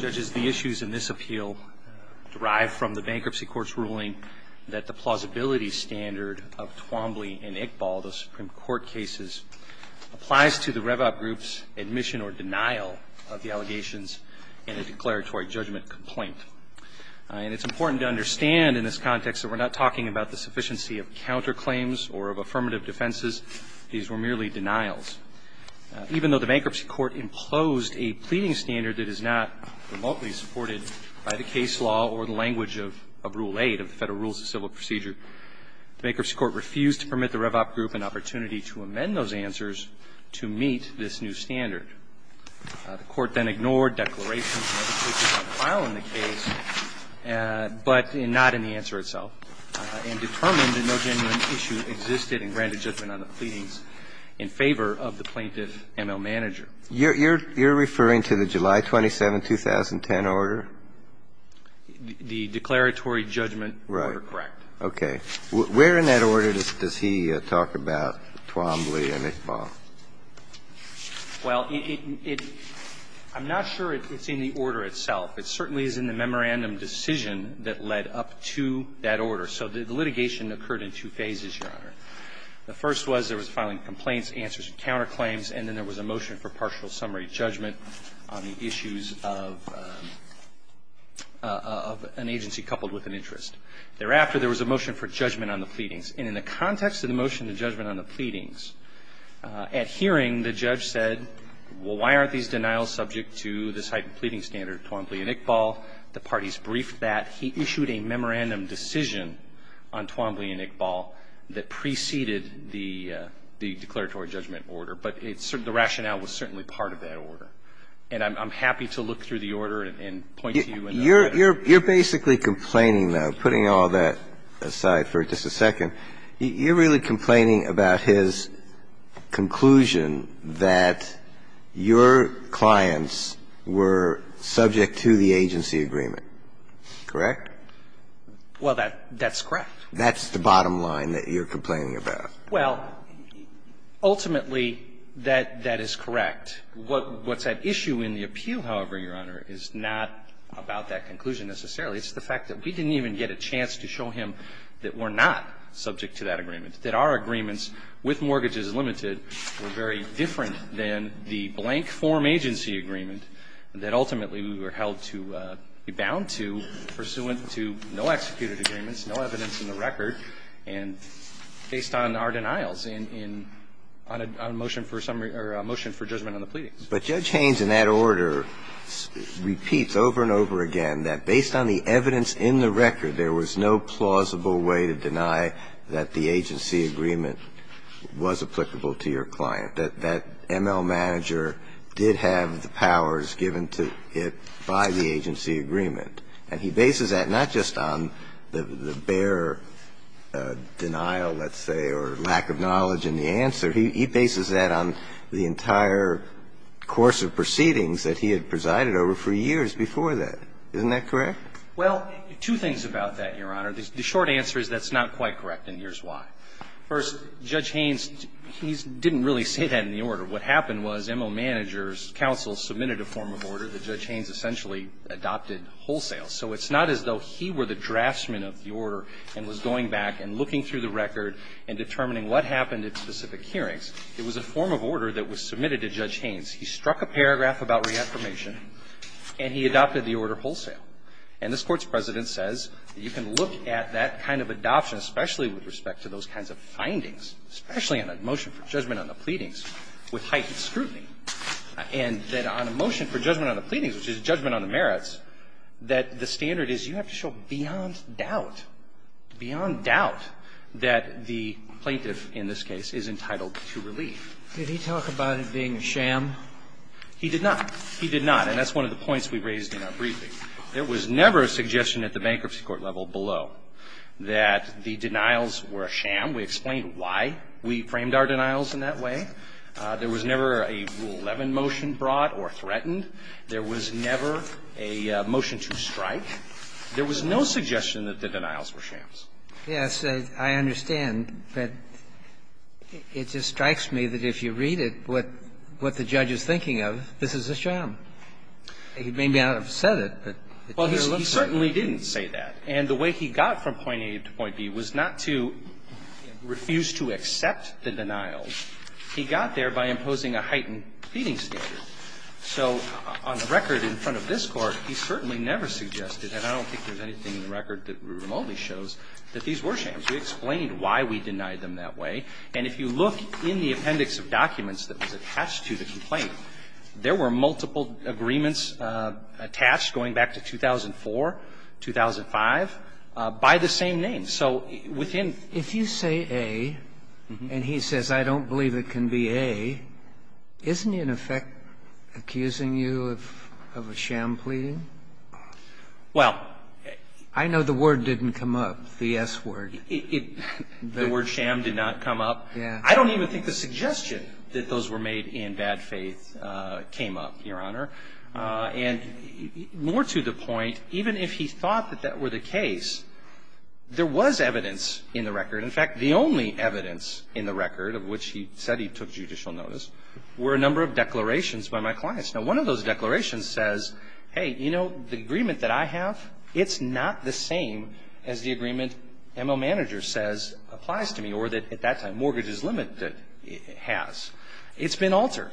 Judges, the issues in this appeal derive from the bankruptcy court's ruling that the plausibility standard of Twombly and Iqbal, the Supreme Court cases, applies to the Rev-Op Group's admission or denial of the allegations in a declaratory judgment complaint. And it's important to understand in this context that we're not talking about the sufficiency of counterclaims or of affirmative defenses. These were merely denials. Even though the bankruptcy court imposed a pleading standard that is not remotely supported by the case law or the language of Rule 8 of the Federal Rules of Civil Procedure, the bankruptcy court refused to permit the Rev-Op Group an opportunity to amend those answers to meet this new standard. The court then ignored declarations and other cases on file in the case, but not in the answer itself, and determined that no genuine issue existed and granted judgment on the pleadings in favor of the plaintiff, ML Manager. You're referring to the July 27, 2010 order? The declaratory judgment order, correct. Right. Okay. Where in that order does he talk about Twombly and Iqbal? Well, it – I'm not sure it's in the order itself. It certainly is in the memorandum decision that led up to that order. So the litigation occurred in two phases, Your Honor. The first was there was filing complaints, answers, and counterclaims, and then there was a motion for partial summary judgment on the issues of an agency coupled with an interest. Thereafter, there was a motion for judgment on the pleadings. And in the context of the motion to judgment on the pleadings, at hearing the judge said, well, why aren't these denials subject to this heightened pleading standard, Twombly and Iqbal? The parties briefed that. He issued a memorandum decision on Twombly and Iqbal that preceded the declaratory judgment order. But the rationale was certainly part of that order. And I'm happy to look through the order and point to you in that order. You're basically complaining, though, putting all that aside for just a second, you're really complaining about his conclusion that your clients were subject to the agency agreement, correct? Well, that's correct. That's the bottom line that you're complaining about. Well, ultimately, that is correct. What's at issue in the appeal, however, Your Honor, is not about that conclusion necessarily. It's the fact that we didn't even get a chance to show him that we're not subject to that agreement, that our agreements with Mortgages Limited were very different than the blank form agency agreement that ultimately we were held to be bound to pursuant to no executed agreements, no evidence in the record, and based on our denials in the motion for judgment on the pleadings. But Judge Haynes, in that order, repeats over and over again that based on the evidence in the record, there was no plausible way to deny that the agency agreement was applicable to your client. And that's the bottom line. It's the fact that that ML manager did have the powers given to it by the agency agreement, and he bases that not just on the bare denial, let's say, or lack of knowledge in the answer, he bases that on the entire course of proceedings that he had presided over for years before that. Isn't that correct? Well, two things about that, Your Honor. The short answer is that's not quite correct, and here's why. First, Judge Haynes, he didn't really say that in the order. What happened was ML manager's counsel submitted a form of order that Judge Haynes essentially adopted wholesale. So it's not as though he were the draftsman of the order and was going back and looking through the record and determining what happened at specific hearings. It was a form of order that was submitted to Judge Haynes. He struck a paragraph about reaffirmation, and he adopted the order wholesale. And this Court's president says you can look at that kind of adoption, especially with respect to those kinds of findings, especially on a motion for judgment on the pleadings, with heightened scrutiny, and that on a motion for judgment on the pleadings, which is judgment on the merits, that the standard is you have to show beyond doubt, beyond doubt that the plaintiff in this case is entitled to relief. Did he talk about it being a sham? He did not. He did not. And that's one of the points we raised in our briefing. There was never a suggestion at the bankruptcy court level below that the denials were a sham. We explained why we framed our denials in that way. There was never a Rule 11 motion brought or threatened. There was never a motion to strike. There was no suggestion that the denials were shams. Yes. I understand. But it just strikes me that if you read it, what the judge is thinking of, this is a sham. He may not have said it, but it certainly looks like it. Well, he certainly didn't say that. And the way he got from point A to point B was not to refuse to accept the denials. He got there by imposing a heightened pleading standard. So on the record in front of this Court, he certainly never suggested, and I don't think there's anything in the record that remotely shows, that these were shams. We explained why we denied them that way. And if you look in the appendix of documents that was attached to the complaint, there were multiple agreements attached going back to 2004, 2005, by the same name. So within ---- If you say A and he says, I don't believe it can be A, isn't he in effect accusing you of a sham pleading? Well ---- I know the word didn't come up, the S word. The word sham did not come up. Yes. I don't even think the suggestion that those were made in bad faith came up, Your Honor. And more to the point, even if he thought that that were the case, there was evidence in the record. In fact, the only evidence in the record of which he said he took judicial notice were a number of declarations by my clients. Now, one of those declarations says, hey, you know, the agreement that I have, it's not the same as the agreement ML Manager says applies to me, or that at that time Mortgage is Limited has. It's been altered.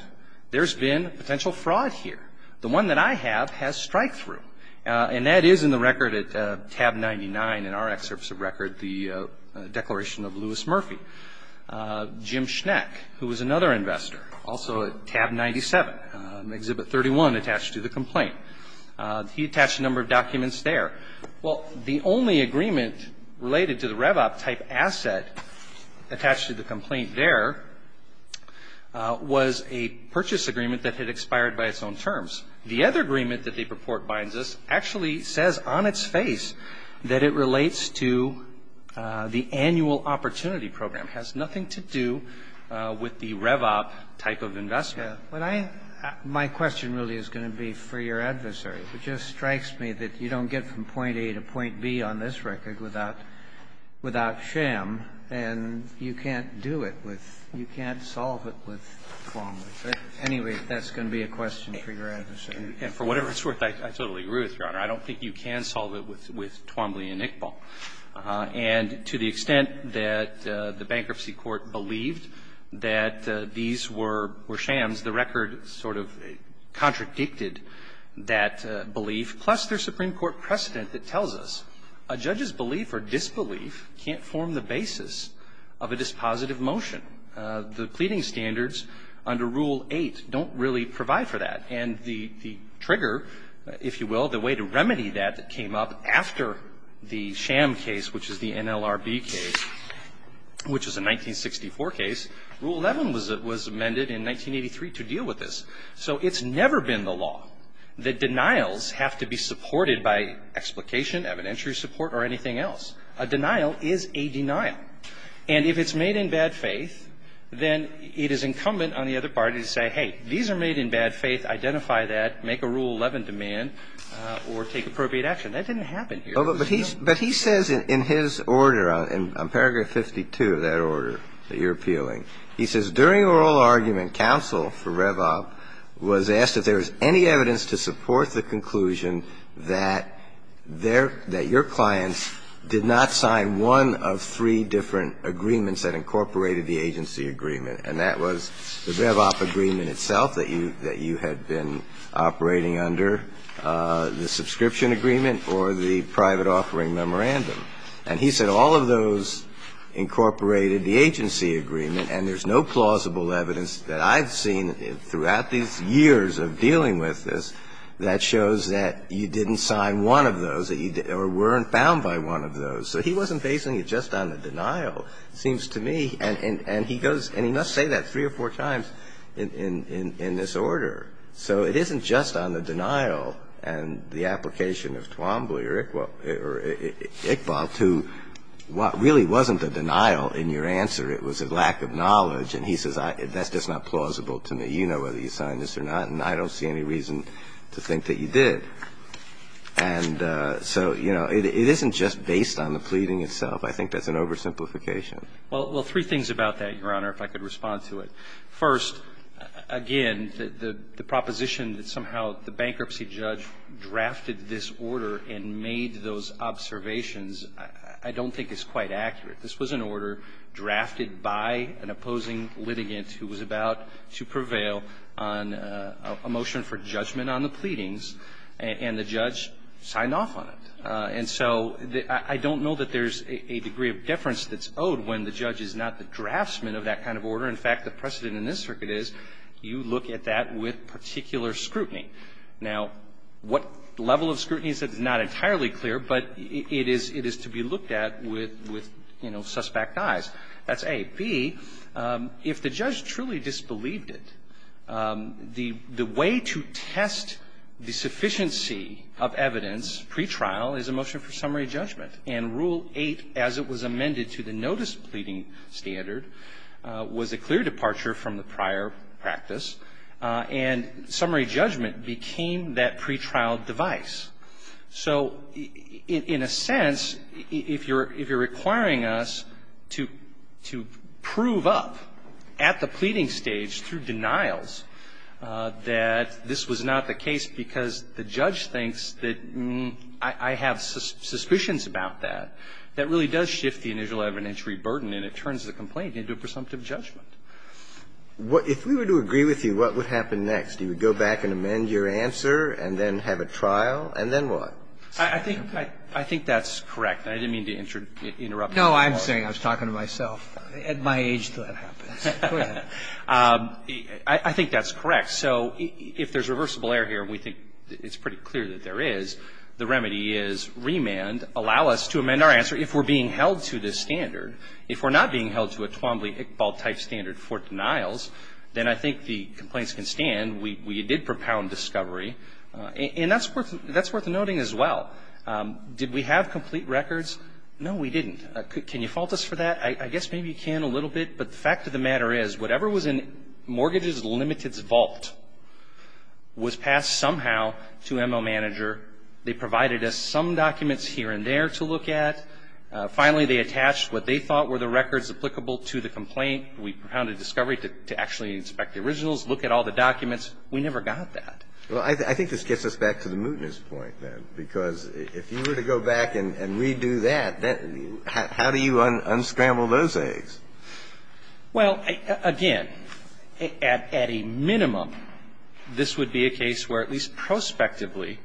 There's been potential fraud here. The one that I have has strikethrough. And that is in the record at tab 99 in our excerpts of record, the declaration of Lewis Murphy. Jim Schneck, who was another investor, also at tab 97, exhibit 31 attached to the complaint. He attached a number of documents there. Well, the only agreement related to the Rev-Op type asset attached to the complaint there was a purchase agreement that had expired by its own terms. The other agreement that the report binds us actually says on its face that it relates to the Annual Opportunity Program. It has nothing to do with the Rev-Op type of investment. My question really is going to be for your adversary. It just strikes me that you don't get from point A to point B on this record without sham, and you can't do it with, you can't solve it with Twombly. Anyway, that's going to be a question for your adversary. And for whatever it's worth, I totally agree with Your Honor. I don't think you can solve it with Twombly and Iqbal. And to the extent that the Bankruptcy Court believed that these were shams, the record sort of contradicted that belief, plus their Supreme Court precedent that tells us a judge's belief or disbelief can't form the basis of a dispositive motion. The pleading standards under Rule 8 don't really provide for that. And the trigger, if you will, the way to remedy that that came up after the sham case, which is the NLRB case, which is a 1964 case, Rule 11 was amended in 1983 to deal with this. So it's never been the law that denials have to be supported by explication, evidentiary support, or anything else. A denial is a denial. And if it's made in bad faith, then it is incumbent on the other party to say, hey, these are made in bad faith. Identify that. Make a Rule 11 demand or take appropriate action. That didn't happen here. But he says in his order, in paragraph 52 of that order that you're appealing, he says, During oral argument, counsel for Revop was asked if there was any evidence to support the conclusion that your clients did not sign one of three different agreements that incorporated the agency agreement. And that was the Revop agreement itself that you had been operating under, the subscription agreement, or the private offering memorandum. And he said all of those incorporated the agency agreement, and there's no plausible evidence that I've seen throughout these years of dealing with this that shows that you didn't sign one of those or weren't bound by one of those. So he wasn't basing it just on the denial, it seems to me. And he goes, and he must say that three or four times in this order. So it isn't just on the denial and the application of Twombly or Iqbal to what really wasn't a denial in your answer, it was a lack of knowledge. And he says that's just not plausible to me. You know whether you signed this or not, and I don't see any reason to think that you did. And so, you know, it isn't just based on the pleading itself. I think that's an oversimplification. Well, three things about that, Your Honor, if I could respond to it. First, again, the proposition that somehow the bankruptcy judge drafted this order and made those observations, I don't think is quite accurate. This was an order drafted by an opposing litigant who was about to prevail on a motion for judgment on the pleadings, and the judge signed off on it. And so I don't know that there's a degree of deference that's owed when the judge is not the draftsman of that kind of order. In fact, the precedent in this circuit is you look at that with particular scrutiny. Now, what level of scrutiny is not entirely clear, but it is to be looked at with, you know, suspect eyes. That's A. B, if the judge truly disbelieved it, the way to test the sufficiency of evidence pre-trial is a motion for summary judgment. And Rule 8, as it was amended to the notice pleading standard, was a clear departure from the prior practice, and summary judgment became that pre-trial device. So in a sense, if you're requiring us to prove up at the pleading stage through a trial, I think I have suspicions about that, that really does shift the initial evidentiary burden and it turns the complaint into a presumptive judgment. If we were to agree with you, what would happen next? You would go back and amend your answer and then have a trial, and then what? I think that's correct. I didn't mean to interrupt you. No, I'm saying I was talking to myself. At my age, that happens. Go ahead. I think that's correct. So if there's reversible error here, and we think it's pretty clear that there is, the remedy is remand, allow us to amend our answer if we're being held to this standard. If we're not being held to a Twombly-Iqbal type standard for denials, then I think the complaints can stand. We did propound discovery. And that's worth noting as well. Did we have complete records? No, we didn't. Can you fault us for that? I guess maybe you can a little bit. But the fact of the matter is, whatever was in Mortgages Limited's vault was passed somehow to ML Manager. They provided us some documents here and there to look at. Finally, they attached what they thought were the records applicable to the complaint. We propounded discovery to actually inspect the originals, look at all the documents. We never got that. Well, I think this gets us back to the mootness point then, because if you were to go back and redo that, how do you unscramble those eggs? Well, again, at a minimum, this would be a case where, at least prospectively,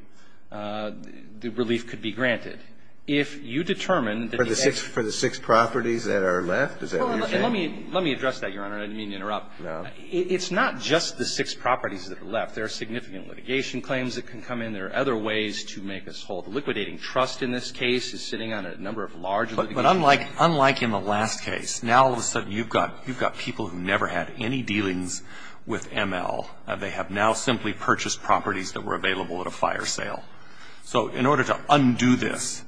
the relief could be granted if you determine that the eggs are in the vault. For the six properties that are left? Is that what you're saying? Well, let me address that, Your Honor. I didn't mean to interrupt. No. It's not just the six properties that are left. There are significant litigation claims that can come in. There are other ways to make us whole. The liquidating trust in this case is sitting on a number of large litigation claims. But unlike in the last case, now all of a sudden you've got people who never had any dealings with ML. They have now simply purchased properties that were available at a fire sale. So in order to undo this,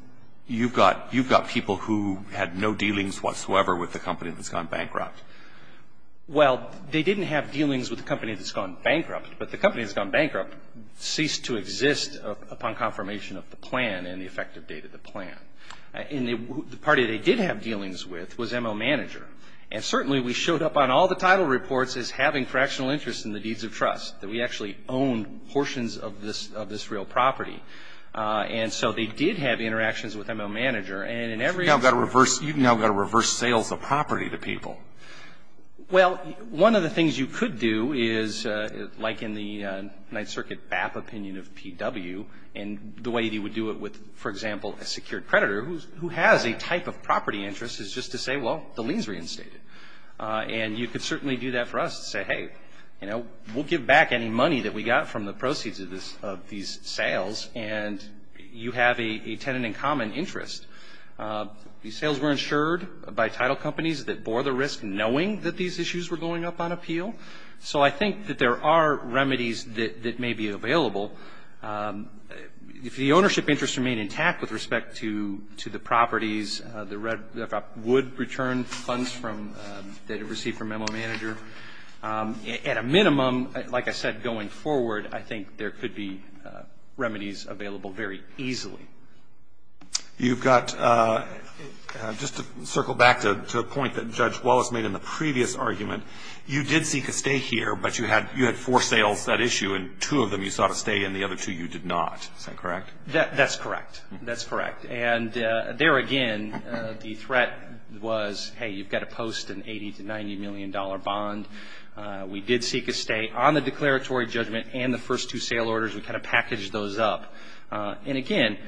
you've got people who had no dealings whatsoever with the company that's gone bankrupt. Well, they didn't have dealings with the company that's gone bankrupt, but the company that's gone bankrupt ceased to exist upon confirmation of the plan and the effective date of the plan. And the party they did have dealings with was ML Manager. And certainly we showed up on all the title reports as having fractional interest in the deeds of trust, that we actually owned portions of this real property. And so they did have interactions with ML Manager. You've now got to reverse sales of property to people. Well, one of the things you could do is, like in the Ninth Circuit BAP opinion of PW, and the way that you would do it with, for example, a secured creditor, who has a type of property interest is just to say, well, the lien's reinstated. And you could certainly do that for us to say, hey, you know, we'll give back any money that we got from the proceeds of these sales, and you have a tenant in common interest. These sales were insured by title companies that bore the risk knowing that these issues were going up on appeal. So I think that there are remedies that may be available. If the ownership interest remained intact with respect to the properties, the red would return funds that it received from ML Manager. At a minimum, like I said going forward, I think there could be remedies available very easily. You've got, just to circle back to a point that Judge Wallace made in the previous argument, you did seek a stay here, but you had four sales, that issue, and two of them you sought a stay, and the other two you did not. Is that correct? That's correct. That's correct. And there again, the threat was, hey, you've got to post an $80 million to $90 million bond. We did seek a stay. On the declaratory judgment and the first two sale orders, we kind of packaged those up. And again,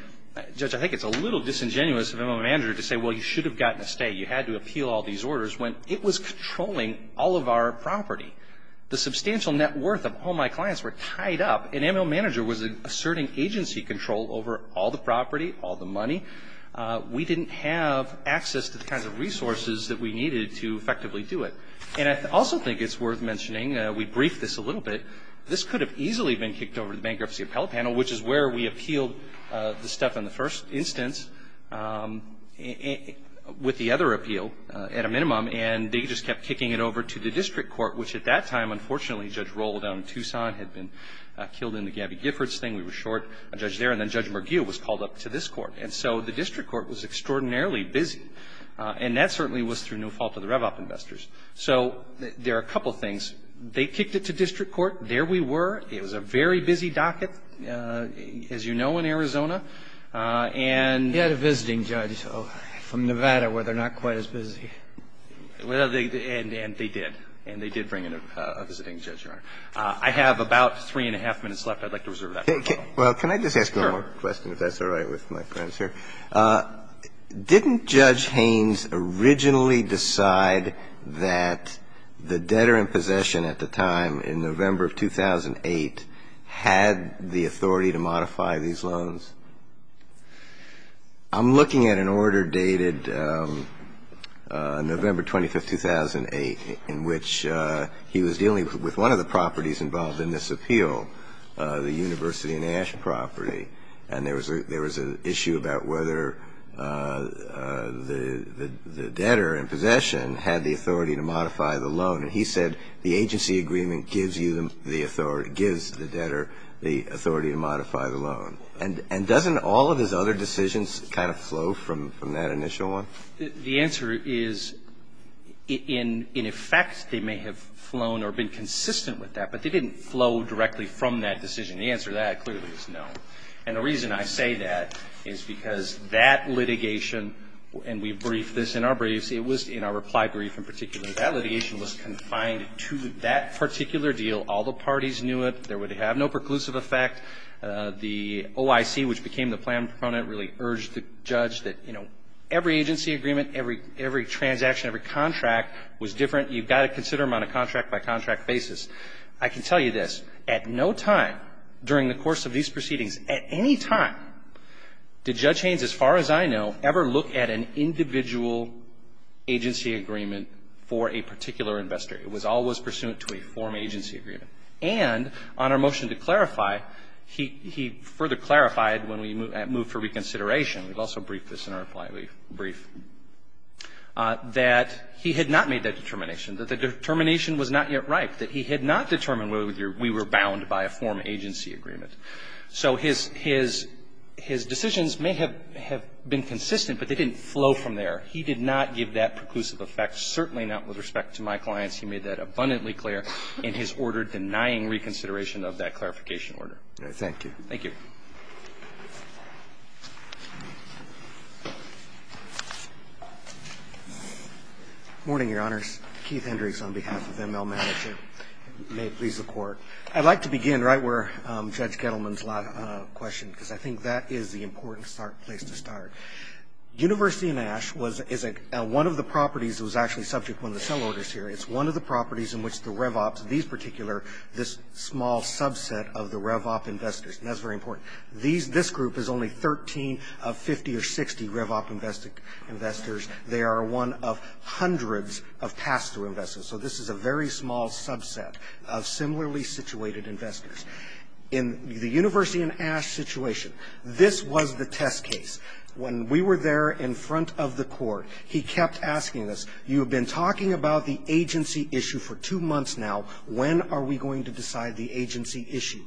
Judge, I think it's a little disingenuous of ML Manager to say, well, you should have gotten a stay. You had to appeal all these orders when it was controlling all of our property. The substantial net worth of all my clients were tied up, and ML Manager was asserting agency control over all the property, all the money. We didn't have access to the kinds of resources that we needed to effectively do it. And I also think it's worth mentioning, we briefed this a little bit, that this could have easily been kicked over to the bankruptcy appellate panel, which is where we appealed the stuff in the first instance with the other appeal at a minimum, and they just kept kicking it over to the district court, which at that time, unfortunately, Judge Roll down in Tucson had been killed in the Gabby Giffords thing. We were short a judge there. And then Judge McGill was called up to this court. And so the district court was extraordinarily busy, and that certainly was through no fault of the Revop investors. So there are a couple things. They kicked it to district court. There we were. It was a very busy docket, as you know, in Arizona. And you had a visiting judge from Nevada where they're not quite as busy. Well, and they did. And they did bring in a visiting judge, Your Honor. I have about three and a half minutes left. I'd like to reserve that. Well, can I just ask one more question, if that's all right with my friends here? Didn't Judge Haynes originally decide that the debtor in possession at the time, in November of 2008, had the authority to modify these loans? I'm looking at an order dated November 25, 2008, in which he was dealing with one of the properties involved in this appeal, the University and Ashe property. And there was an issue about whether the debtor in possession had the authority to modify the loan. And he said the agency agreement gives the debtor the authority to modify the loan. And doesn't all of his other decisions kind of flow from that initial one? The answer is, in effect, they may have flown or been consistent with that, but they didn't flow directly from that decision. The answer to that clearly is no. And the reason I say that is because that litigation, and we briefed this in our briefs, it was in our reply brief in particular, that litigation was confined to that particular deal. All the parties knew it. There would have no preclusive effect. The OIC, which became the plan proponent, really urged the judge that, you know, every agency agreement, every transaction, every contract was different. You've got to consider them on a contract-by-contract basis. I can tell you this, at no time during the course of these proceedings, at any time, did Judge Haynes, as far as I know, ever look at an individual agency agreement for a particular investor. It was always pursuant to a form agency agreement. And on our motion to clarify, he further clarified when we moved for reconsideration, we've also briefed this in our reply brief, that he had not made that determination, that the determination was not yet ripe, that he had not determined whether we were bound by a form agency agreement. So his decisions may have been consistent, but they didn't flow from there. He did not give that preclusive effect, certainly not with respect to my clients. He made that abundantly clear in his order denying reconsideration of that clarification order. Roberts. Thank you. Morning, Your Honors. Keith Hendricks on behalf of ML Management. May it please the Court. I'd like to begin right where Judge Kettleman's question, because I think that is the important place to start. University & Ash is one of the properties that was actually subject to one of the sell orders here. It's one of the properties in which the RevOps, these particular, this small subset of the RevOps investors, and that's very important, this group is only 13 of 50 or 60 RevOps investors. They are one of hundreds of pass-through investors. So this is a very small subset of similarly situated investors. In the University & Ash situation, this was the test case. When we were there in front of the court, he kept asking us, you have been talking about the agency issue for two months now. When are we going to decide the agency issue?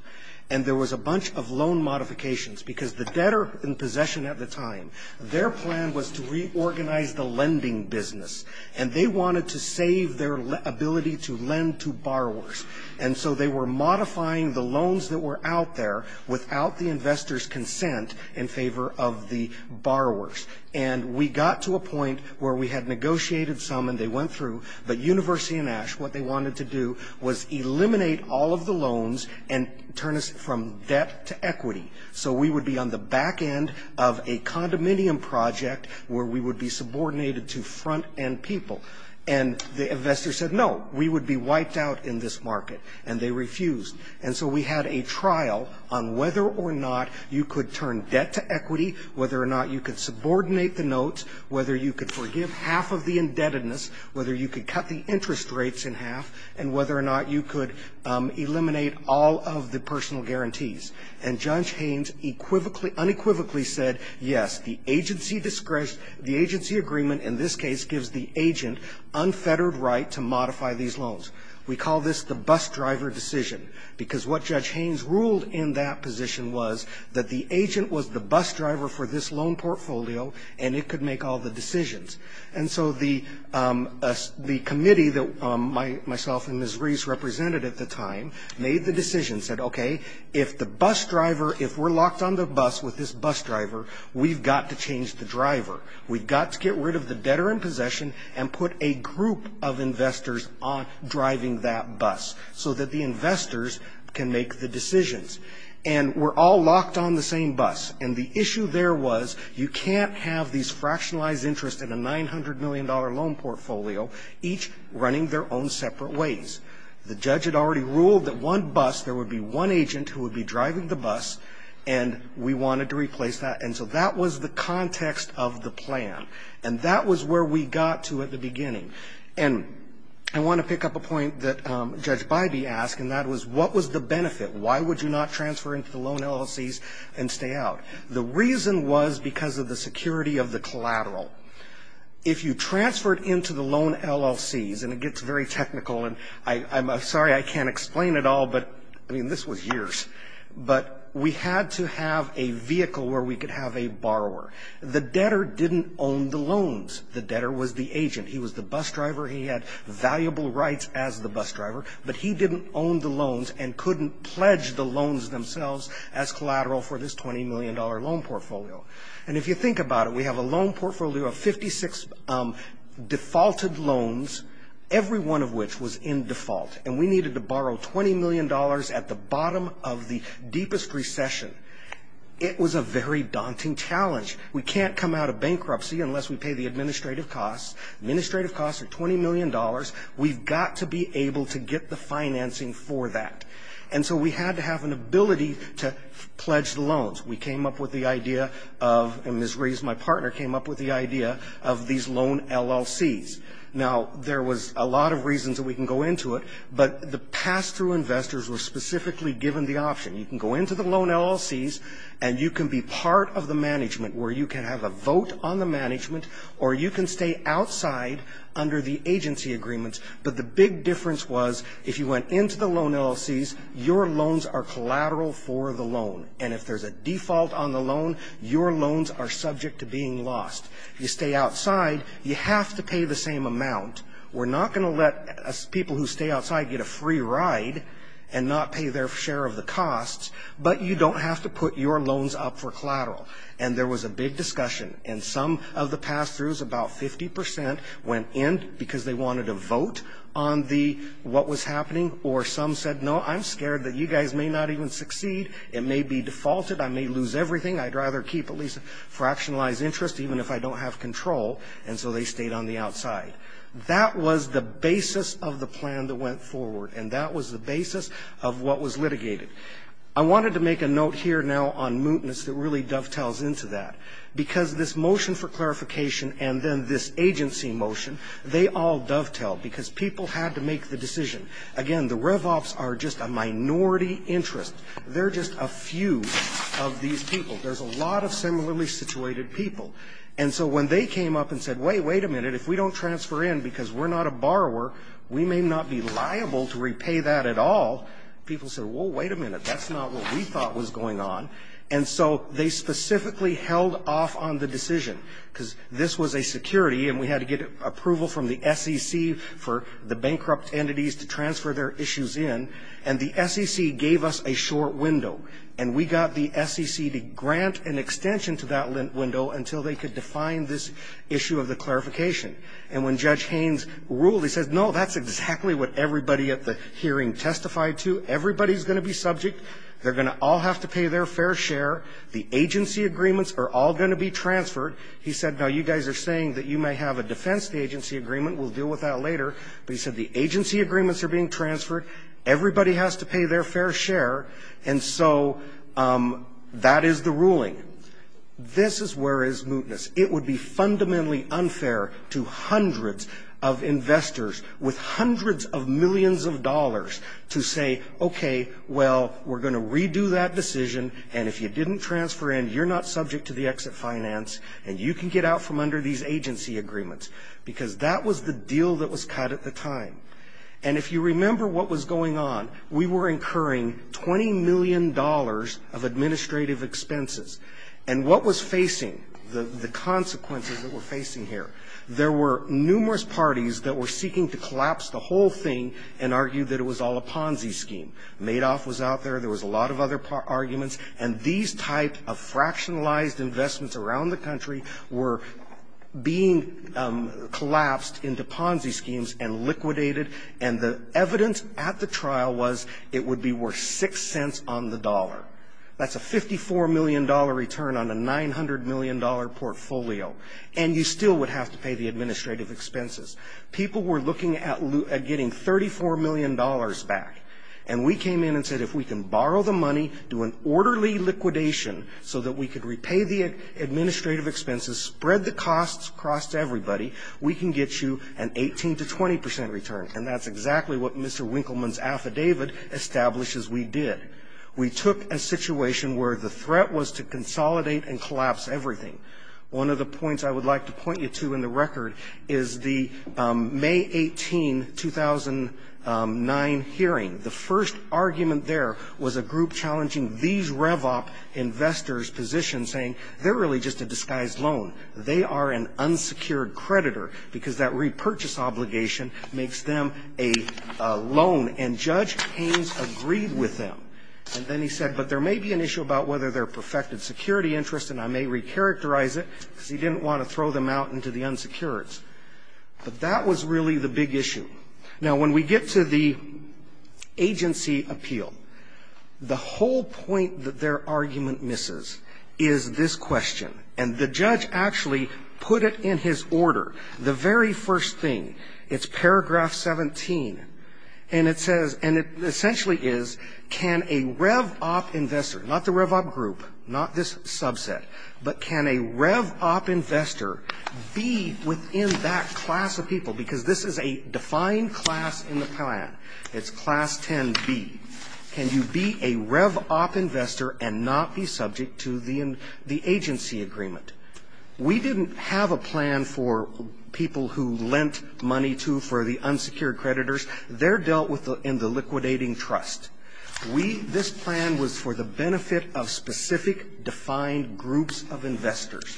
And there was a bunch of loan modifications, because the debtor in possession at the time, their plan was to reorganize the lending business. And they wanted to save their ability to lend to borrowers. And so they were modifying the loans that were out there without the investor's consent in favor of the borrowers. And we got to a point where we had negotiated some, and they went through. But University & Ash, what they wanted to do was eliminate all of the loans and turn us from debt to equity. So we would be on the back end of a condominium project where we would be subordinated to front-end people. And the investor said, no, we would be wiped out in this market, and they refused. And so we had a trial on whether or not you could turn debt to equity, whether or not you could subordinate the notes, whether you could forgive half of the indebtedness, whether you could cut the interest rates in half, and whether or not you could eliminate all of the personal guarantees. And Judge Haynes unequivocally said, yes, the agency discretion the agency agreement, in this case, gives the agent unfettered right to modify these loans. We call this the bus driver decision, because what Judge Haynes ruled in that position was that the agent was the bus driver for this loan portfolio, and it could make all the decisions. And so the committee that myself and Ms. Reese represented at the time made the decision, said, okay, if the bus driver, if we're locked on the bus with this bus driver, we've got to change the driver. We've got to get rid of the debtor in possession and put a group of investors driving that bus so that the investors can make the decisions. And we're all locked on the same bus. And the issue there was you can't have these fractionalized interests in a $900 million loan portfolio, each running their own separate ways. The judge had already ruled that one bus, there would be one agent who would be driving the bus, and we wanted to replace that. And so that was the context of the plan. And that was where we got to at the beginning. And I want to pick up a point that Judge Bybee asked, and that was what was the benefit? Why would you not transfer into the loan LLCs and stay out? The reason was because of the security of the collateral. If you transferred into the loan LLCs, and it gets very technical, and I'm sorry I can't explain it all, but, I mean, this was years, but we had to have a vehicle where we could have a borrower. The debtor didn't own the loans. The debtor was the agent. He was the bus driver. He had valuable rights as the bus driver. But he didn't own the loans and couldn't pledge the loans themselves as collateral for this $20 million loan portfolio. And if you think about it, we have a loan portfolio of 56 defaulted loans, every one of which was in default, and we needed to borrow $20 million at the bottom of the deepest recession. It was a very daunting challenge. We can't come out of bankruptcy unless we pay the administrative costs. Administrative costs are $20 million. We've got to be able to get the financing for that. And so we had to have an ability to pledge the loans. We came up with the idea of, and Ms. Rees, my partner, came up with the idea of these loan LLCs. Now, there was a lot of reasons that we can go into it, but the pass-through investors were specifically given the option. You can go into the loan LLCs, and you can be part of the management where you can have a vote on the management, or you can stay outside under the agency agreements. But the big difference was if you went into the loan LLCs, your loans are collateral for the loan. And if there's a default on the loan, your loans are subject to being lost. You stay outside, you have to pay the same amount. We're not going to let people who stay outside get a free ride and not pay their share of the costs, but you don't have to put your loans up for collateral. And there was a big discussion, and some of the pass-throughs, about 50 percent went in because they wanted to vote on what was happening, or some said, no, I'm scared that you guys may not even succeed. It may be defaulted. I may lose everything. I'd rather keep at least a fractionalized interest even if I don't have control. And so they stayed on the outside. That was the basis of the plan that went forward, and that was the basis of what was litigated. I wanted to make a note here now on mootness that really dovetails into that, because this motion for clarification and then this agency motion, they all dovetailed because people had to make the decision. Again, the rev ops are just a minority interest. They're just a few of these people. There's a lot of similarly situated people. And so when they came up and said, wait, wait a minute, if we don't transfer in because we're not a borrower, we may not be liable to repay that at all, people said, well, wait a minute. That's not what we thought was going on. And so they specifically held off on the decision, because this was a security, and we had to get approval from the SEC for the bankrupt entities to transfer their issues in. And the SEC gave us a short window, and we got the SEC to grant an extension to that window until they could define this issue of the clarification. And when Judge Haynes ruled, he said, no, that's exactly what everybody at the hearing testified to. Everybody's going to be subject. They're going to all have to pay their fair share. The agency agreements are all going to be transferred. He said, no, you guys are saying that you may have a defense agency agreement. We'll deal with that later. But he said the agency agreements are being transferred. Everybody has to pay their fair share. And so that is the ruling. This is where is mootness. It would be fundamentally unfair to hundreds of investors with hundreds of millions of dollars to say, okay, well, we're going to redo that decision, and if you didn't transfer in, you're not subject to the exit finance, and you can get out from under these agency agreements, because that was the deal that was cut at the time. And if you remember what was going on, we were incurring $20 million of administrative expenses. And what was facing, the consequences that we're facing here, there were numerous parties that were seeking to collapse the whole thing and argued that it was all a Ponzi scheme. Madoff was out there. There was a lot of other arguments. And these type of fractionalized investments around the country were being collapsed into Ponzi schemes and liquidated. And the evidence at the trial was it would be worth 6 cents on the dollar. That's a $54 million return on a $900 million portfolio. And you still would have to pay the administrative expenses. People were looking at getting $34 million back. And we came in and said if we can borrow the money, do an orderly liquidation so that we could repay the administrative expenses, spread the costs across to everybody, we can get you an 18 to 20 percent return. And that's exactly what Mr. Winkleman's affidavit establishes we did. We took a situation where the threat was to consolidate and collapse everything. One of the points I would like to point you to in the record is the May 18, 2009 hearing. The first argument there was a group challenging these Revop investors' positions, saying they're really just a disguised loan. They are an unsecured creditor because that repurchase obligation makes them a loan. And Judge Haynes agreed with them. And then he said, but there may be an issue about whether they're perfected security interests, and I may recharacterize it because he didn't want to throw them out into the unsecureds. But that was really the big issue. Now, when we get to the agency appeal, the whole point that their argument misses is this question. And the judge actually put it in his order. The very first thing, it's paragraph 17, and it says, and it essentially is, can a Revop investor, not the Revop group, not this subset, but can a Revop investor be within that class of people? Because this is a defined class in the plan. It's class 10B. Can you be a Revop investor and not be subject to the agency agreement? We didn't have a plan for people who lent money to for the unsecured creditors. They're dealt with in the liquidating trust. We, this plan was for the benefit of specific defined groups of investors.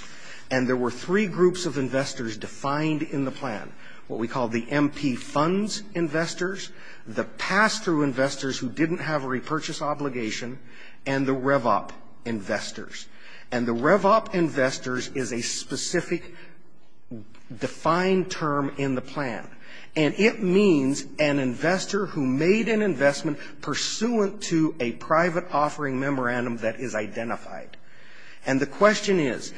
And there were three groups of investors defined in the plan, what we call the MP funds investors, the pass-through investors who didn't have a repurchase obligation, and the Revop investors. And the Revop investors is a specific defined term in the plan. And it means an investor who made an investment pursuant to a private offering memorandum that is identified. And the question is,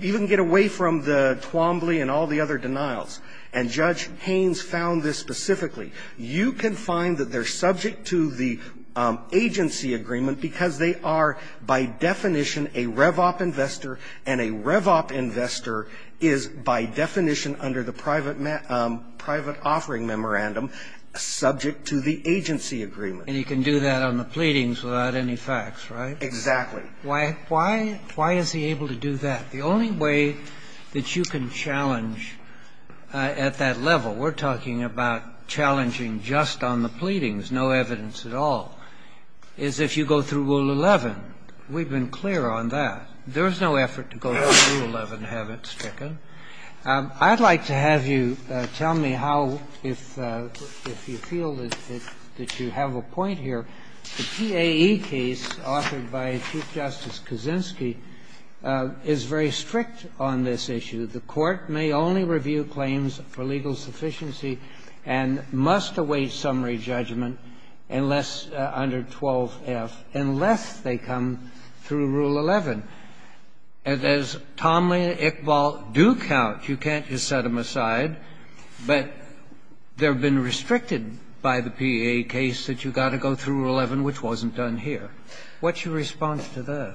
even get away from the Twombly and all the other denials, and Judge Haynes found this specifically, you can find that they're subject to the agency agreement because they are by definition a Revop investor. And a Revop investor is by definition under the private offering memorandum subject to the agency agreement. And you can do that on the pleadings without any facts, right? Exactly. Why is he able to do that? The only way that you can challenge at that level, we're talking about challenging just on the pleadings, no evidence at all, is if you go through Rule 11. We've been clear on that. There's no effort to go through Rule 11 to have it stricken. I'd like to have you tell me how, if you feel that you have a point here, the PAE case authored by Chief Justice Kuczynski is very strict on this issue. The Court may only review claims for legal sufficiency and must await summary judgment unless under 12f, unless they come through Rule 11. And as Twombly and Iqbal do count, you can't just set them aside. But they've been restricted by the PAE case that you've got to go through Rule 11, which wasn't done here. What's your response to that?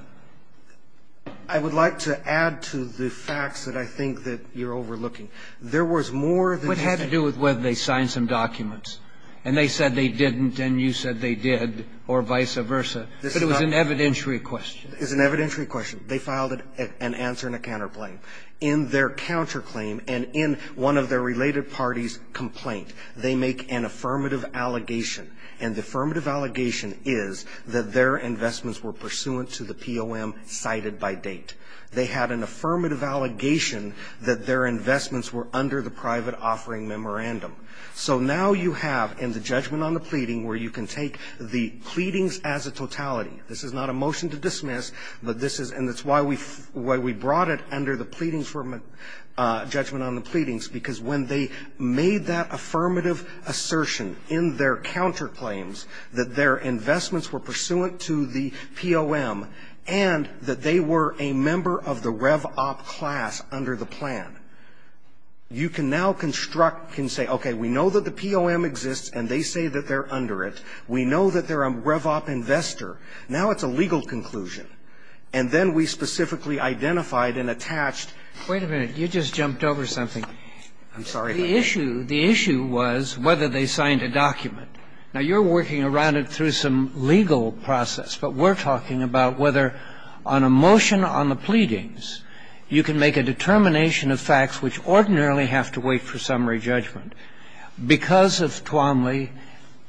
I would like to add to the facts that I think that you're overlooking. There was more than just a question. What had to do with whether they signed some documents? And they said they didn't, and you said they did, or vice versa. But it was an evidentiary question. It's an evidentiary question. They filed an answer and a counterclaim. In their counterclaim and in one of their related parties' complaint, they make an affirmative allegation. And the affirmative allegation is that their investments were pursuant to the POM cited by date. They had an affirmative allegation that their investments were under the private offering memorandum. So now you have, in the judgment on the pleading, where you can take the pleadings as a totality. This is not a motion to dismiss, and that's why we brought it under the judgment on the in their counterclaims, that their investments were pursuant to the POM, and that they were a member of the Rev-Op class under the plan. You can now construct, can say, okay, we know that the POM exists and they say that they're under it. We know that they're a Rev-Op investor. Now it's a legal conclusion. And then we specifically identified and attached. Wait a minute. You just jumped over something. I'm sorry. The issue, the issue was whether they signed a document. Now, you're working around it through some legal process, but we're talking about whether on a motion on the pleadings, you can make a determination of facts which ordinarily have to wait for summary judgment because of Twomley,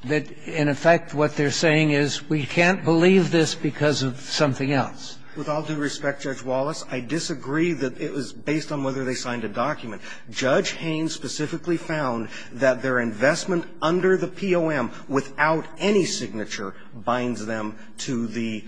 that in effect what they're saying is we can't believe this because of something else. With all due respect, Judge Wallace, I disagree that it was based on whether they signed a document. Judge Haynes specifically found that their investment under the POM without any signature binds them to the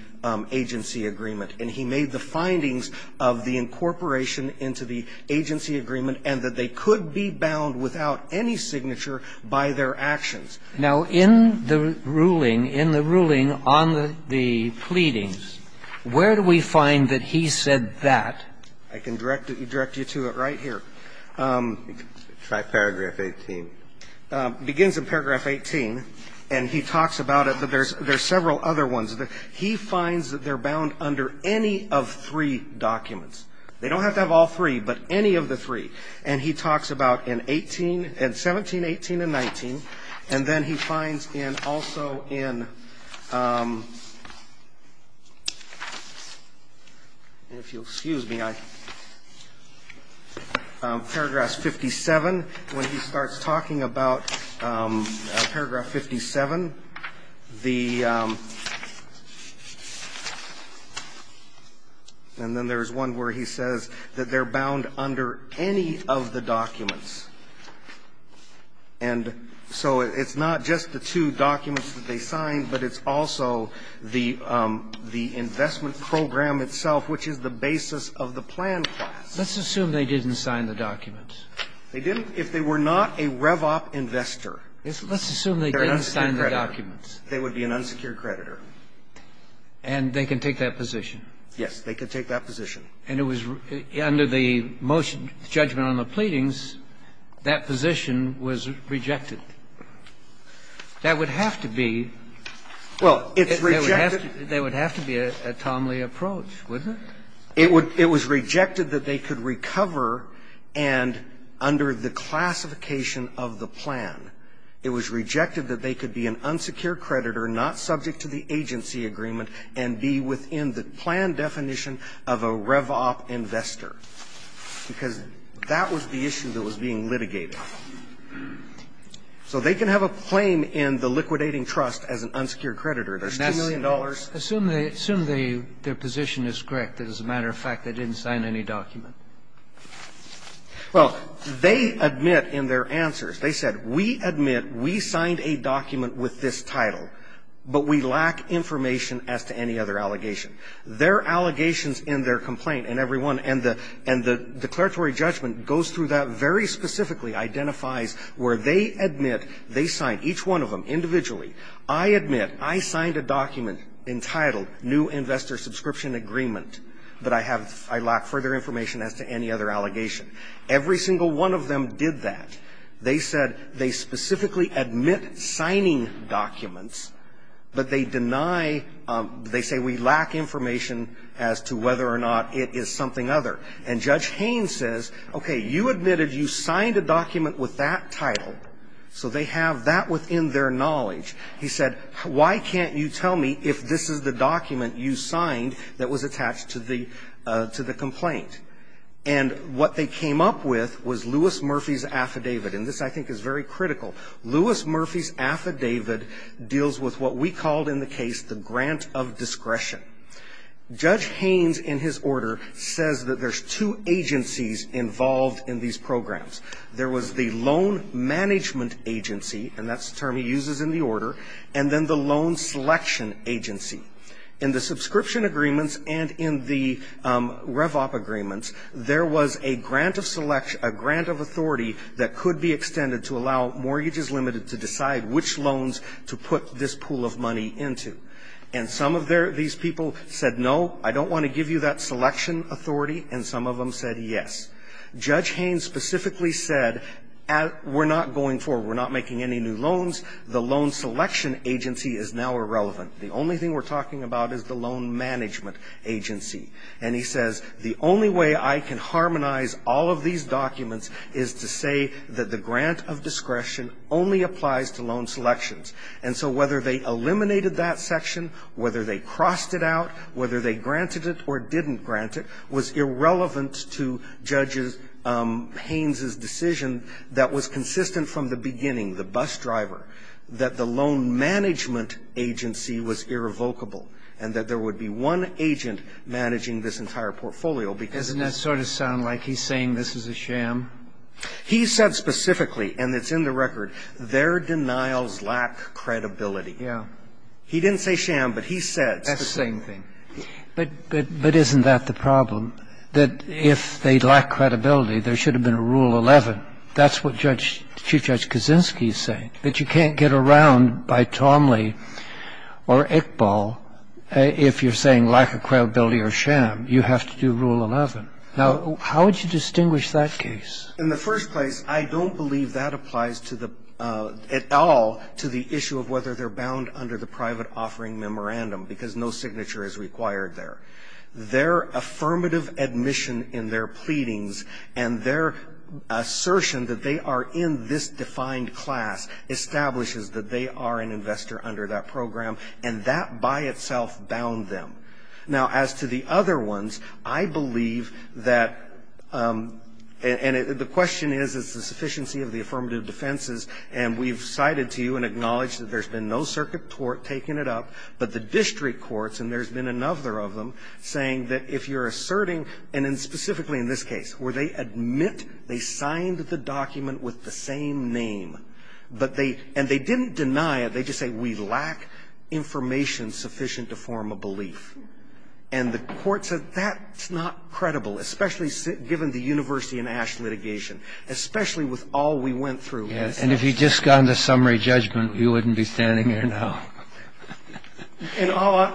agency agreement. And he made the findings of the incorporation into the agency agreement and that they could be bound without any signature by their actions. Now, in the ruling, in the ruling on the pleadings, where do we find that he said that? I can direct you to it right here. Try paragraph 18. Begins in paragraph 18, and he talks about it, but there's several other ones. He finds that they're bound under any of three documents. They don't have to have all three, but any of the three. And he talks about in 18 and 17, 18, and 19. And then he finds in also in, if you'll excuse me, I, paragraph 57. When he starts talking about paragraph 57, the, and then there's one where he says that they're bound under any of the documents. And so it's not just the two documents that they signed, but it's also the investment program itself, which is the basis of the plan class. Let's assume they didn't sign the documents. They didn't. If they were not a Revop investor. Let's assume they didn't sign the documents. They're an unsecured creditor. They would be an unsecured creditor. And they can take that position? Yes. They could take that position. And it was under the motion, judgment on the pleadings, that position was rejected. That would have to be. Well, it's rejected. There would have to be a Tom Lee approach, wouldn't it? It would be. It was rejected that they could recover and under the classification of the plan. It was rejected that they could be an unsecured creditor, not subject to the agency agreement, and be within the plan definition of a Revop investor, because that was the issue that was being litigated. So they can have a claim in the liquidating trust as an unsecured creditor. There's $2 million. Assume they assume their position is correct, that as a matter of fact they didn't sign any document. Well, they admit in their answers, they said, we admit we signed a document with this title, but we lack information as to any other allegation. Their allegations in their complaint, and everyone, and the declaratory judgment goes through that very specifically, identifies where they admit they signed, each one of them individually. I admit I signed a document entitled new investor subscription agreement, but I have I lack further information as to any other allegation. Every single one of them did that. They said they specifically admit signing documents, but they deny, they say we lack information as to whether or not it is something other. And Judge Haynes says, okay, you admitted you signed a document with that title, so they have that within their knowledge. He said, why can't you tell me if this is the document you signed that was attached to the complaint? And what they came up with was Lewis Murphy's affidavit. And this, I think, is very critical. Lewis Murphy's affidavit deals with what we called in the case the grant of discretion. Judge Haynes, in his order, says that there's two agencies involved in these programs. There was the loan management agency, and that's the term he uses in the order, and then the loan selection agency. In the subscription agreements and in the REVOP agreements, there was a grant of selection, a grant of authority that could be extended to allow Mortgages Limited to decide which loans to put this pool of money into. And some of these people said, no, I don't want to give you that selection authority, and some of them said yes. Judge Haynes specifically said, we're not going forward. We're not making any new loans. The loan selection agency is now irrelevant. The only thing we're talking about is the loan management agency. And he says, the only way I can harmonize all of these documents is to say that the grant of discretion only applies to loan selections. And so whether they eliminated that section, whether they crossed it out, whether they granted it or didn't grant it, was irrelevant to Judge Haynes' decision that was consistent from the beginning, the bus driver, that the loan management agency was irrevocable, and that there would be one agent managing this entire portfolio because of the loan. Doesn't that sort of sound like he's saying this is a sham? He said specifically, and it's in the record, their denials lack credibility. Yeah. He didn't say sham, but he said. That's the same thing. But isn't that the problem, that if they lack credibility, there should have been a Rule 11? That's what Chief Judge Kaczynski is saying, that you can't get around, by talking to Tomley or Iqbal, if you're saying lack of credibility or sham, you have to do Rule 11. Now, how would you distinguish that case? In the first place, I don't believe that applies to the – at all to the issue of whether they're bound under the private offering memorandum, because no signature is required there. Their affirmative admission in their pleadings and their assertion that they are in this defined class establishes that they are an investor under that program, and that by itself bound them. Now, as to the other ones, I believe that – and the question is, is the sufficiency of the affirmative defenses. And we've cited to you and acknowledged that there's been no circuit court taking it up, but the district courts, and there's been another of them, saying that if you're asserting – and specifically in this case, where they admit they signed the document with the same name, but they – and they didn't deny it, they just say we lack information sufficient to form a belief. And the court said that's not credible, especially given the University and Ash litigation, especially with all we went through. Yes. And if you'd just gone to summary judgment, we wouldn't be standing here now. In all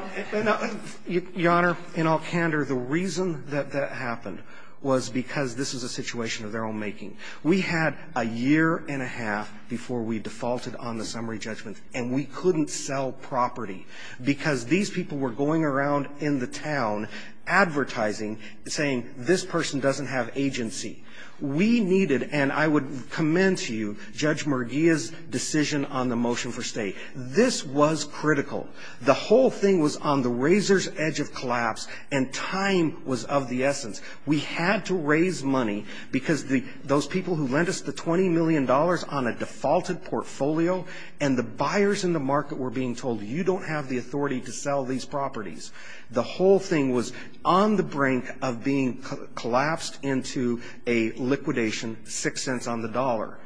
– Your Honor, in all candor, the reason that that happened was because this was a situation of their own making. We had a year and a half before we defaulted on the summary judgment, and we couldn't sell property because these people were going around in the town advertising, saying this person doesn't have agency. We needed – and I would commend to you Judge Murguia's decision on the motion for stay. This was critical. The whole thing was on the razor's edge of collapse, and time was of the essence. We had to raise money because those people who lent us the $20 million on a defaulted portfolio, and the buyers in the market were being told you don't have the authority to sell these properties. The whole thing was on the brink of being collapsed into a liquidation, six cents on the dollar.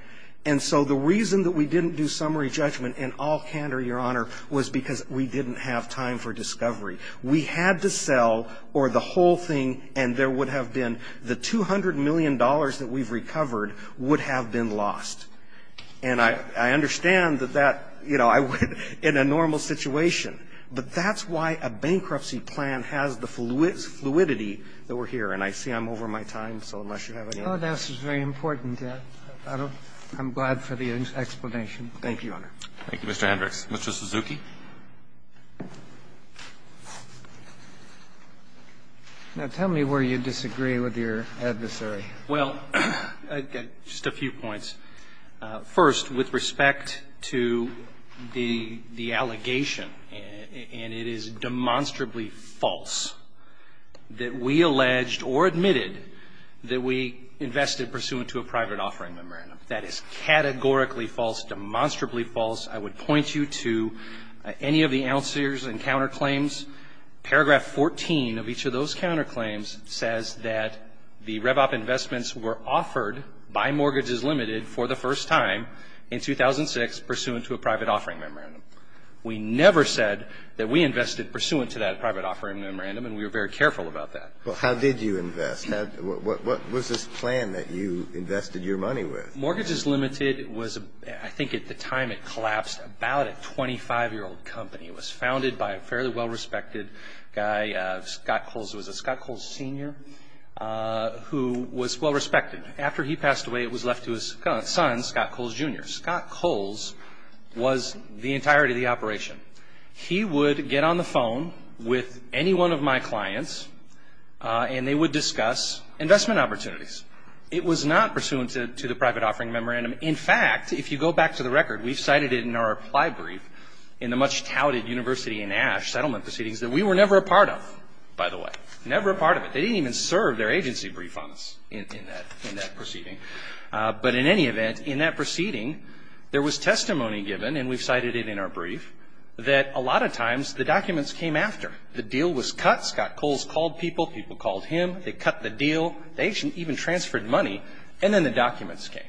And so the reason that we didn't do summary judgment in all candor, Your Honor, was because we didn't have time for discovery. We had to sell, or the whole thing, and there would have been the $200 million that we've recovered would have been lost. And I understand that that, you know, I would in a normal situation, but that's why a bankruptcy plan has the fluidity that we're here, and I see I'm over my time, so unless you have any other questions. Sotomayor, this is very important. I'm glad for the explanation. Thank you, Your Honor. Thank you, Mr. Hendricks. Mr. Suzuki. Now, tell me where you disagree with your adversary. Well, just a few points. First, with respect to the allegation, and it is demonstrably false, that we alleged or admitted that we invested pursuant to a private offering memorandum. That is categorically false, demonstrably false. I would point you to any of the answers and counterclaims. Paragraph 14 of each of those counterclaims says that the Revop investments were offered by Mortgages Limited for the first time in 2006 pursuant to a private offering memorandum. We never said that we invested pursuant to that private offering memorandum, and we were very careful about that. Well, how did you invest? What was this plan that you invested your money with? Mortgages Limited was, I think at the time it collapsed, about a 25-year-old company. It was founded by a fairly well-respected guy, Scott Coles. It was a Scott Coles senior who was well-respected. After he passed away, it was left to his son, Scott Coles, Jr. Scott Coles was the entirety of the operation. He would get on the phone with any one of my clients, and they would discuss investment opportunities. It was not pursuant to the private offering memorandum. In fact, if you go back to the record, we've cited it in our reply brief in the much-touted University and Ash settlement proceedings that we were never a part of, by the way. Never a part of it. They didn't even serve their agency brief on us in that proceeding. But in any event, in that proceeding, there was testimony given, and we've cited it in our brief, that a lot of times the documents came after. The deal was cut. Scott Coles called people. People called him. They cut the deal. The agent even transferred money, and then the documents came.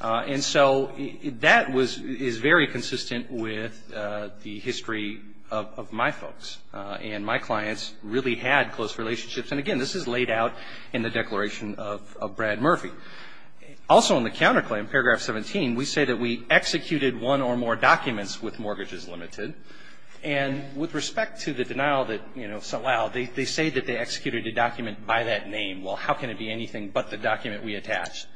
And so that is very consistent with the history of my folks, and my clients really had close relationships. And, again, this is laid out in the Declaration of Brad Murphy. Also in the counterclaim, paragraph 17, we say that we executed one or more documents with mortgages limited. And with respect to the denial that, you know, they say that they executed a document by that name. Well, how can it be anything but the document we attached?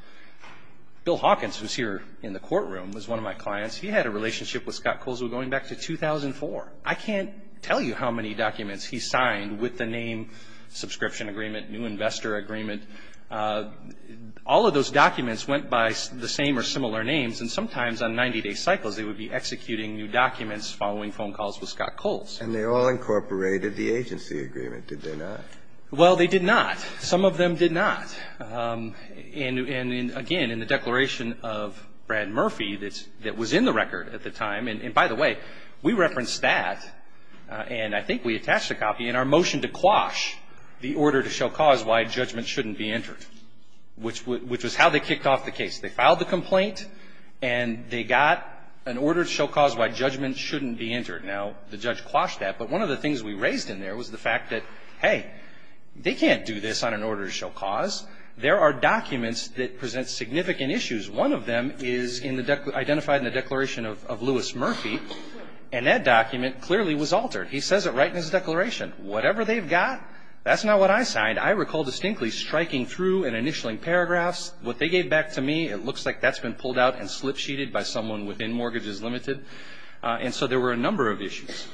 Bill Hawkins, who is here in the courtroom, was one of my clients. He had a relationship with Scott Coles going back to 2004. I can't tell you how many documents he signed with the name subscription agreement, new investor agreement. All of those documents went by the same or similar names, and sometimes on 90-day cycles they would be executing new documents following phone calls with Scott Coles. And they all incorporated the agency agreement, did they not? Well, they did not. Some of them did not. And, again, in the Declaration of Brad Murphy that was in the record at the time, and, by the way, we referenced that, and I think we attached a copy, in our motion to quash the order to show cause why judgment shouldn't be entered, which was how they kicked off the case. They filed the complaint, and they got an order to show cause why judgment shouldn't be entered. Now, the judge quashed that, but one of the things we raised in there was the fact that, hey, they can't do this on an order to show cause. There are documents that present significant issues. One of them is identified in the Declaration of Lewis Murphy, and that document clearly was altered. He says it right in his declaration. Whatever they've got, that's not what I signed. I recall distinctly striking through and initialing paragraphs. What they gave back to me, it looks like that's been pulled out and slip-sheeted by someone within Mortgages Limited. And so there were a number of issues.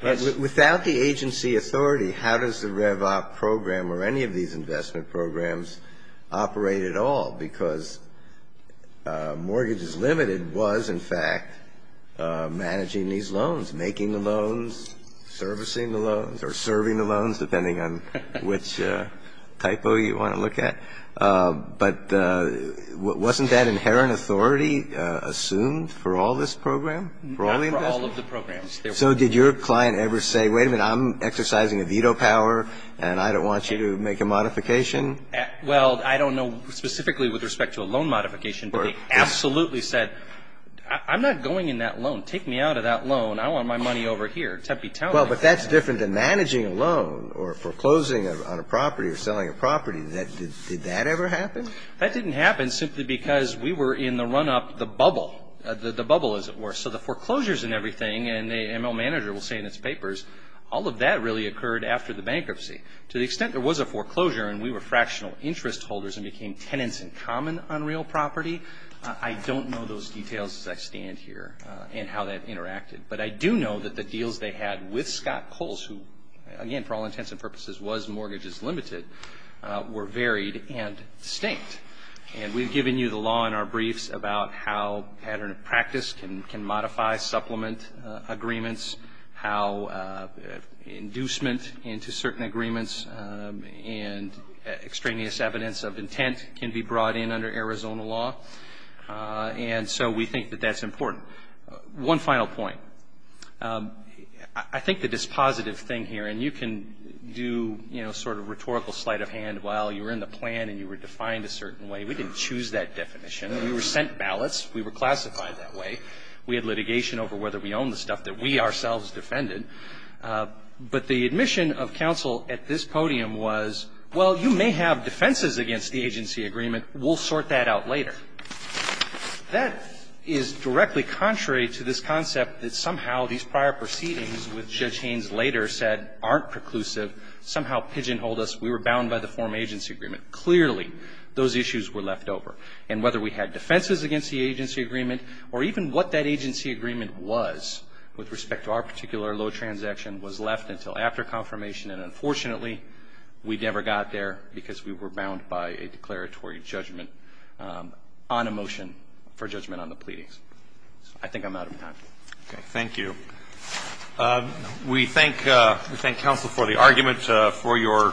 But without the agency authority, how does the REVOP program or any of these investment programs operate at all? Because Mortgages Limited was, in fact, managing these loans, making the loans, servicing the loans, or serving the loans, depending on which typo you want to look at. But wasn't that inherent authority assumed for all this program? For all the investments? Not for all of the programs. So did your client ever say, wait a minute, I'm exercising a veto power, and I don't want you to make a modification? Well, I don't know specifically with respect to a loan modification, but they absolutely said, I'm not going in that loan. Take me out of that loan. I want my money over here. Tempe Town. Well, but that's different than managing a loan or foreclosing on a property or selling a property. Did that ever happen? That didn't happen simply because we were in the run-up, the bubble, the bubble, as it were. So the foreclosures and everything, and the ML manager will say in his papers, all of that really occurred after the bankruptcy. To the extent there was a foreclosure and we were fractional interest holders and became tenants in common on real property, I don't know those details as I stand here and how that interacted. But I do know that the deals they had with Scott Coles, who, again, for all intents and purposes, were varied and distinct. And we've given you the law in our briefs about how pattern of practice can modify supplement agreements, how inducement into certain agreements and extraneous evidence of intent can be brought in under Arizona law. And so we think that that's important. One final point. I think the dispositive thing here, and you can do, you know, sort of rhetorical sleight of hand while you're in the plan and you were defined a certain way. We didn't choose that definition. We were sent ballots. We were classified that way. We had litigation over whether we owned the stuff that we ourselves defended. But the admission of counsel at this podium was, well, you may have defenses against the agency agreement. We'll sort that out later. That is directly contrary to this concept that somehow these prior proceedings with Judge Haines later said aren't preclusive. Somehow pigeonholed us. We were bound by the form agency agreement. Clearly, those issues were left over. And whether we had defenses against the agency agreement or even what that agency agreement was with respect to our particular loan transaction was left until after confirmation. And unfortunately, we never got there because we were bound by a declaratory judgment. On a motion for judgment on the pleadings. I think I'm out of time. Okay. Thank you. We thank counsel for the argument, for your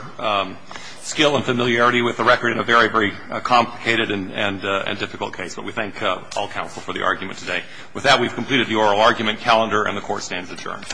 skill and familiarity with the record in a very, very complicated and difficult case. But we thank all counsel for the argument today. With that, we've completed the oral argument, calendar, and the Court stands adjourned.